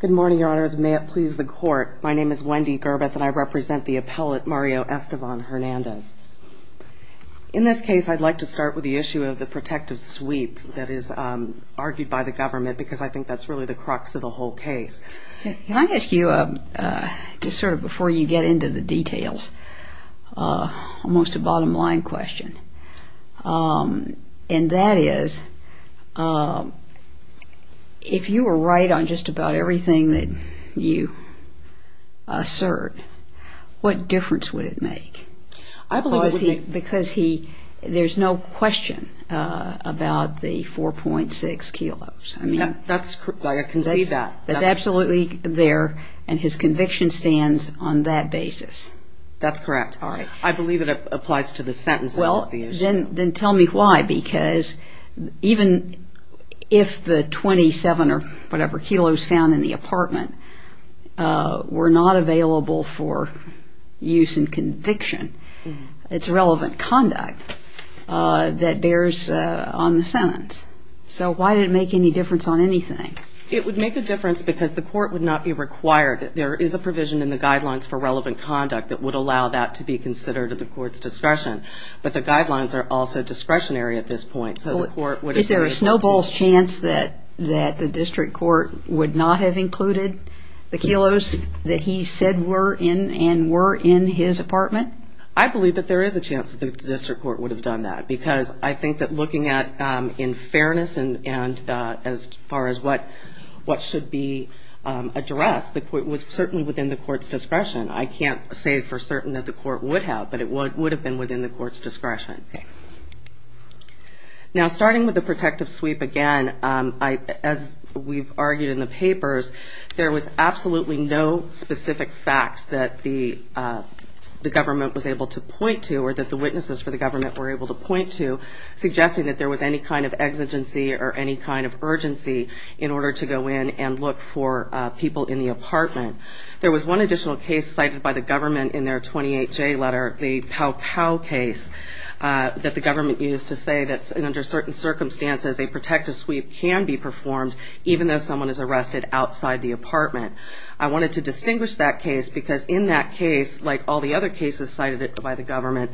Good morning, Your Honor. May it please the Court, my name is Wendy Gerbeth and I represent the appellate Mario Estevan-Hernandez. In this case, I'd like to start with the issue of the protective sweep that is argued by the government because I think that's really the crux of the whole case. Can I ask you, just sort of before you get into the details, almost a bottom line question? And that is, if you were right on just about everything that you assert, what difference would it make? I believe it would make... Because he, there's no question about the 4.6 kilos. That's, I can see that. That's absolutely there and his conviction stands on that basis. That's correct. I believe it applies to the sentence. Well, then tell me why, because even if the 27 or whatever kilos found in the apartment were not available for use in conviction, it's relevant conduct that bears on the sentence. So why did it make any difference on anything? It would make a difference because the court would not be required. There is a provision in the guidelines for relevant conduct that would allow that to be considered at the court's discretion. But the guidelines are also discretionary at this point, so the court would... Is there a snowball's chance that the district court would not have included the kilos that he said were in and were in his apartment? I believe that there is a chance that the district court would have done that, because I think that looking at in fairness and as far as what should be addressed, it was certainly within the court's discretion. I can't say for certain that the court would have, but it would have been within the court's discretion. Okay. Now, starting with the protective sweep again, as we've argued in the papers, there was absolutely no specific facts that the government was able to point to, or that the witnesses for the government were able to point to, suggesting that there was any kind of exigency or any kind of urgency in order to go in and look for people in the apartment. There was one additional case cited by the government in their 28J letter, the Pow Pow case, that the government used to say that under certain circumstances, a protective sweep can be performed even though someone is arrested outside the apartment. I wanted to distinguish that case because in that case, like all the other cases cited by the government,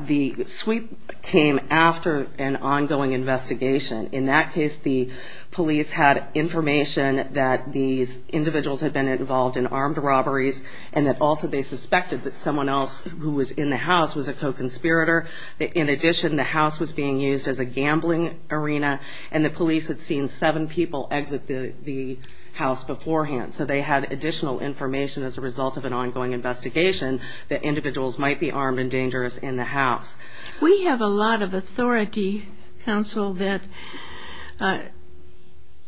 the sweep came after an ongoing investigation. In that case, the police had information that these individuals had been involved in armed robberies, and that also they suspected that someone else who was in the house was a co-conspirator. In addition, the house was being used as a gambling arena, and the police had seen seven people exit the house beforehand. So they had additional information as a result of an ongoing investigation that individuals might be armed and dangerous in the house. We have a lot of authority, counsel, that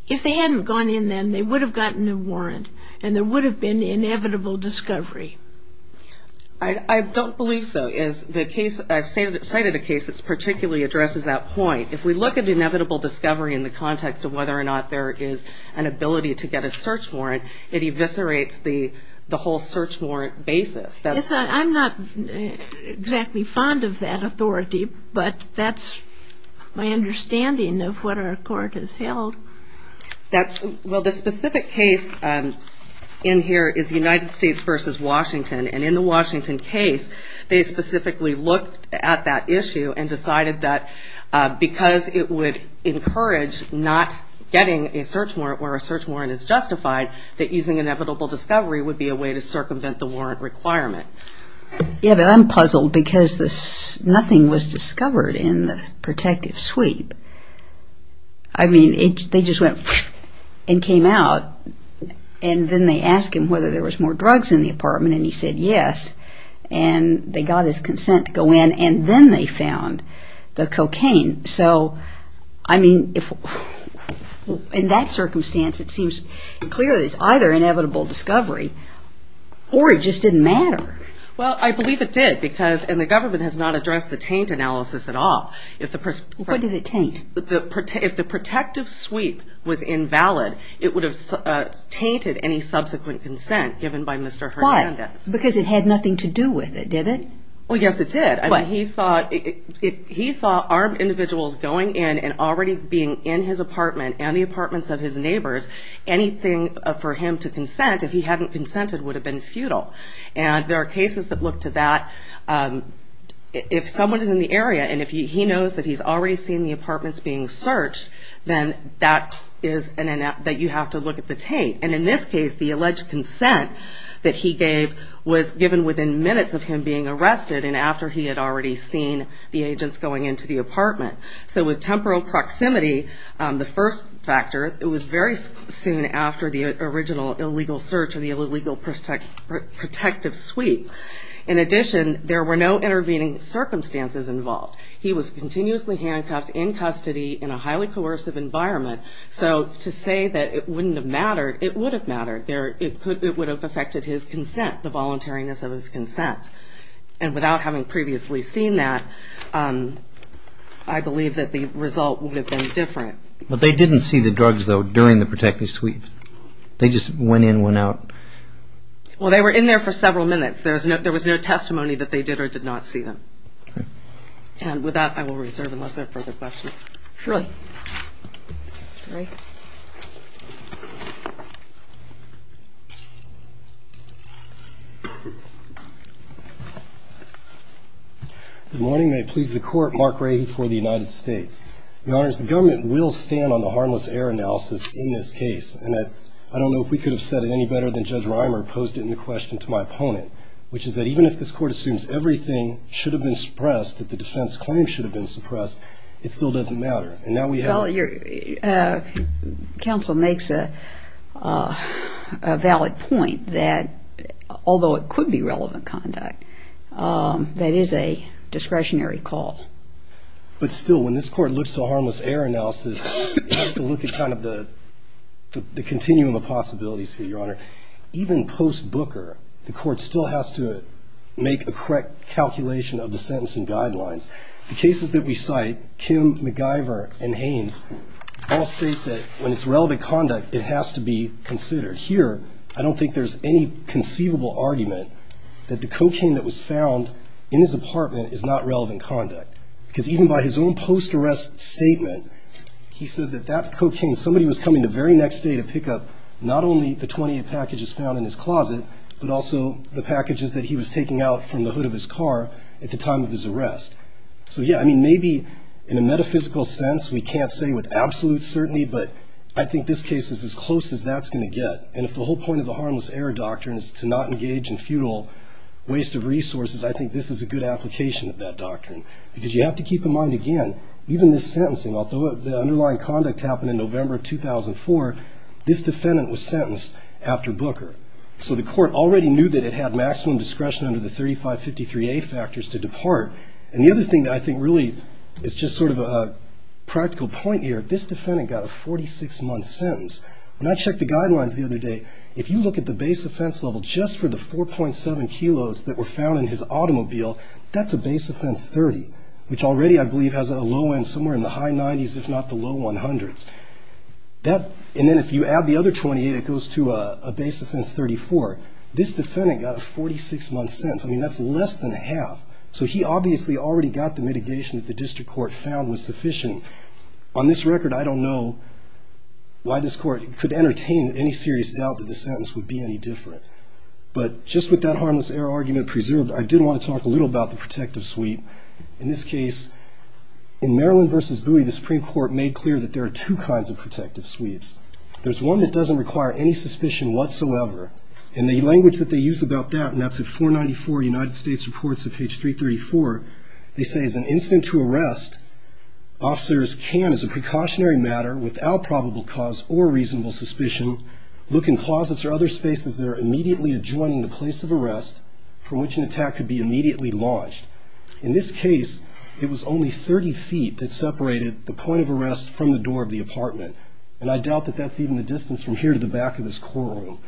if they hadn't gone in then, they would have gotten a warrant, and there would have been inevitable discovery. I don't believe so. As the case, I've cited a case that particularly addresses that point. If we look at inevitable discovery in the context of whether or not there is an ability to get a search warrant, it eviscerates the whole search warrant basis. Yes, I'm not exactly fond of that authority, but that's my understanding of what our court has held. Well, the specific case in here is United States v. Washington, and in the Washington case, they specifically looked at that issue and decided that because it would encourage not getting a search warrant where a search warrant is justified, that using inevitable discovery would be a way to circumvent the warrant requirement. Yeah, but I'm puzzled because nothing was discovered in the protective sweep. I mean, they just went and came out, and then they asked him whether there was more drugs in the apartment, and he said yes. And they got his consent to go in, and then they found the cocaine. In that circumstance, it seems clear that it's either inevitable discovery or it just didn't matter. Well, I believe it did, and the government has not addressed the taint analysis at all. What did it taint? If the protective sweep was invalid, it would have tainted any subsequent consent given by Mr. Hernandez. Why? Because it had nothing to do with it, did it? Well, yes, it did. He saw armed individuals going in and already being in his apartment and the apartments of his neighbors. Anything for him to consent, if he hadn't consented, would have been futile. And there are cases that look to that. If someone is in the area, and if he knows that he's already seen the apartments being searched, then that is an inevitable – that you have to look at the taint. And in this case, the alleged consent that he gave was given within minutes of him being arrested and after he had already seen the agents going into the apartment. So with temporal proximity, the first factor, it was very soon after the original illegal search or the illegal protective sweep. In addition, there were no intervening circumstances involved. He was continuously handcuffed in custody in a highly coercive environment. So to say that it wouldn't have mattered, it would have mattered. It would have affected his consent, the voluntariness of his consent. And without having previously seen that, I believe that the result would have been different. But they didn't see the drugs, though, during the protective sweep? They just went in, went out? Well, they were in there for several minutes. There was no testimony that they did or did not see them. And with that, I will reserve unless there are further questions. Troy. Good morning. May it please the Court, Mark Rahy for the United States. Your Honors, the government will stand on the harmless error analysis in this case. And I don't know if we could have said it any better than Judge Reimer posed it in the question to my opponent, which is that even if this Court assumes everything should have been suppressed, that the defense claim should have been suppressed, it still doesn't matter. And now we have a ---- Well, your counsel makes a valid point that although it could be relevant conduct, that is a discretionary call. But still, when this Court looks to a harmless error analysis, it has to look at kind of the continuum of possibilities here, Your Honor. Even post-Booker, the Court still has to make a correct calculation of the sentencing guidelines. The cases that we cite, Kim, MacGyver, and Haynes, all state that when it's relevant conduct, it has to be considered. Here, I don't think there's any conceivable argument that the cocaine that was found in his apartment is not relevant conduct. Because even by his own post-arrest statement, he said that that cocaine, somebody was coming the very next day to pick up not only the 28 packages found in his closet, but also the packages that he was taking out from the hood of his car at the time of his arrest. So, yeah, I mean, maybe in a metaphysical sense, we can't say with absolute certainty, but I think this case is as close as that's going to get. And if the whole point of the harmless error doctrine is to not engage in futile waste of resources, I think this is a good application of that doctrine. Because you have to keep in mind, again, even this sentencing, although the underlying conduct happened in November of 2004, this defendant was sentenced after Booker. So the court already knew that it had maximum discretion under the 3553A factors to depart. And the other thing that I think really is just sort of a practical point here, this defendant got a 46-month sentence. When I checked the guidelines the other day, if you look at the base offense level just for the 4.7 kilos that were found in his automobile, that's a base offense 30, which already, I believe, has a low end somewhere in the high 90s, if not the low 100s. And then if you add the other 28, it goes to a base offense 34. This defendant got a 46-month sentence. I mean, that's less than a half. So he obviously already got the mitigation that the district court found was sufficient. On this record, I don't know why this court could entertain any serious doubt that the sentence would be any different. But just with that harmless error argument preserved, I did want to talk a little about the protective sweep. In this case, in Maryland v. Bowie, the Supreme Court made clear that there are two kinds of protective sweeps. There's one that doesn't require any suspicion whatsoever. And the language that they use about that, and that's at 494 United States Reports at page 334, they say, as an incident to arrest, officers can, as a precautionary matter, without probable cause or reasonable suspicion, look in closets or other spaces that are immediately adjoining the place of arrest from which an attack could be immediately launched. In this case, it was only 30 feet that separated the point of arrest from the door of the apartment. And I doubt that that's even the distance from here to the back of this courtroom.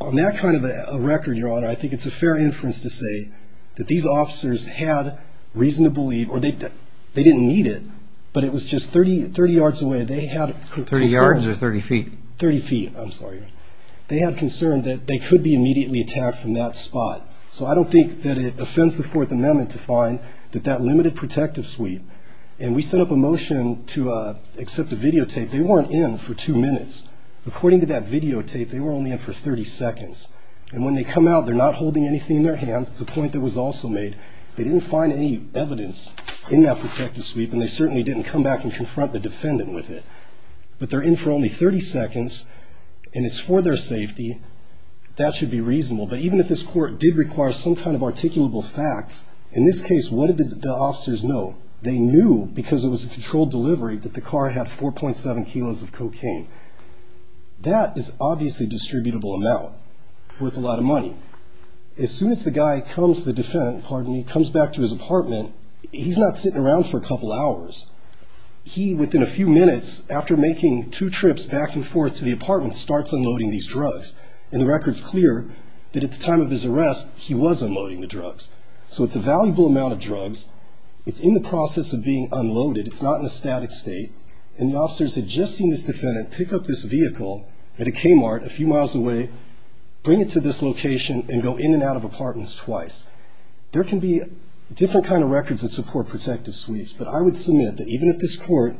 On that kind of a record, Your Honor, I think it's a fair inference to say that these officers had reason to believe, or they didn't need it, but it was just 30 yards away. They had concern. Thirty yards or 30 feet? Thirty feet. I'm sorry. They had concern that they could be immediately attacked from that spot. So I don't think that it offends the Fourth Amendment to find that that limited protective sweep, and we set up a motion to accept the videotape. They weren't in for two minutes. According to that videotape, they were only in for 30 seconds. And when they come out, they're not holding anything in their hands. It's a point that was also made. They didn't find any evidence in that protective sweep, and they certainly didn't come back and confront the defendant with it. But they're in for only 30 seconds, and it's for their safety. That should be reasonable. But even if this court did require some kind of articulable facts, in this case, what did the officers know? They knew because it was a controlled delivery that the car had 4.7 kilos of cocaine. That is obviously a distributable amount worth a lot of money. As soon as the guy comes to the defendant, pardon me, comes back to his apartment, he's not sitting around for a couple hours. He, within a few minutes, after making two trips back and forth to the apartment, starts unloading these drugs. And the record's clear that at the time of his arrest, he was unloading the drugs. So it's a valuable amount of drugs. It's in the process of being unloaded. It's not in a static state. And the officers had just seen this defendant pick up this vehicle at a Kmart a few miles away, bring it to this location, and go in and out of apartments twice. There can be different kind of records that support protective sweeps, but I would submit that even if this court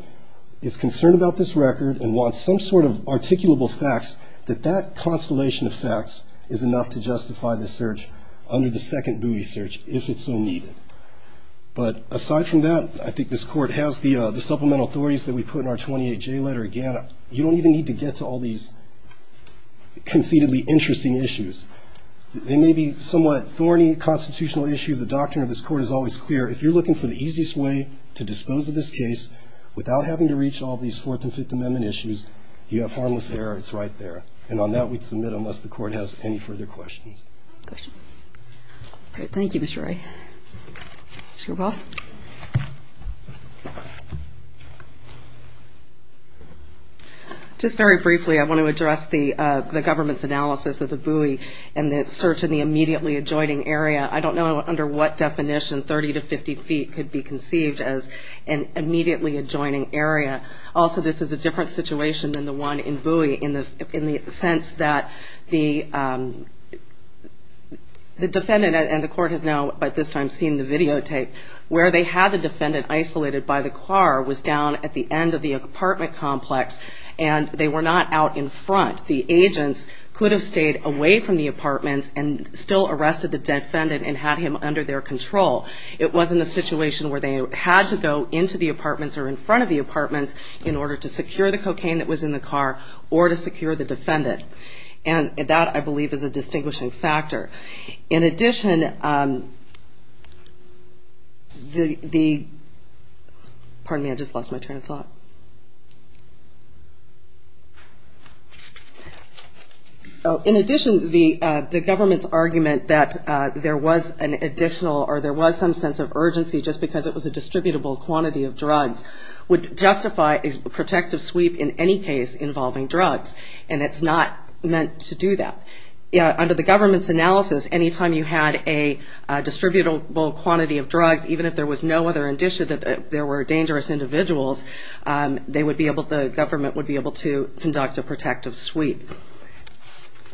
is concerned about this record and wants some sort of articulable facts, that that constellation of facts is enough to justify the search under the second buoy search if it's so needed. But aside from that, I think this court has the supplemental authorities that we put in our 28J letter. Again, you don't even need to get to all these conceitedly interesting issues. They may be somewhat thorny constitutional issues. The doctrine of this court is always clear. If you're looking for the easiest way to dispose of this case without having to reach all these Fourth and Fifth Amendment issues, you have harmless error. It's right there. And on that, we'd submit unless the court has any further questions. Questions? Great. Thank you, Mr. Ray. Ms. Graboff? Just very briefly, I want to address the government's analysis of the buoy and the search in the immediately adjoining area. I don't know under what definition 30 to 50 feet could be conceived as an immediately adjoining area. Also, this is a different situation than the one in buoy in the sense that the defendant and the court has now by this time seen the videotape, where they had the defendant isolated by the car was down at the end of the apartment complex and they were not out in front. The agents could have stayed away from the apartments and still arrested the defendant and had him under their control. It wasn't a situation where they had to go into the apartments or in front of the apartments in order to secure the cocaine that was in the car or to secure the defendant. And that, I believe, is a distinguishing factor. In addition, the government's argument that there was an additional or there was some sense of urgency just because it was a distributable quantity of drugs would justify a protective sweep in any case involving drugs, and it's not meant to do that. Under the government's analysis, any time you had a distributable quantity of drugs, even if there was no other indicia that there were dangerous individuals, the government would be able to conduct a protective sweep.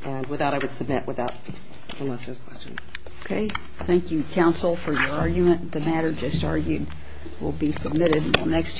And with that, I would submit, unless there's questions. Okay. Thank you, counsel, for your argument. The matter just argued will be submitted next Tuesday.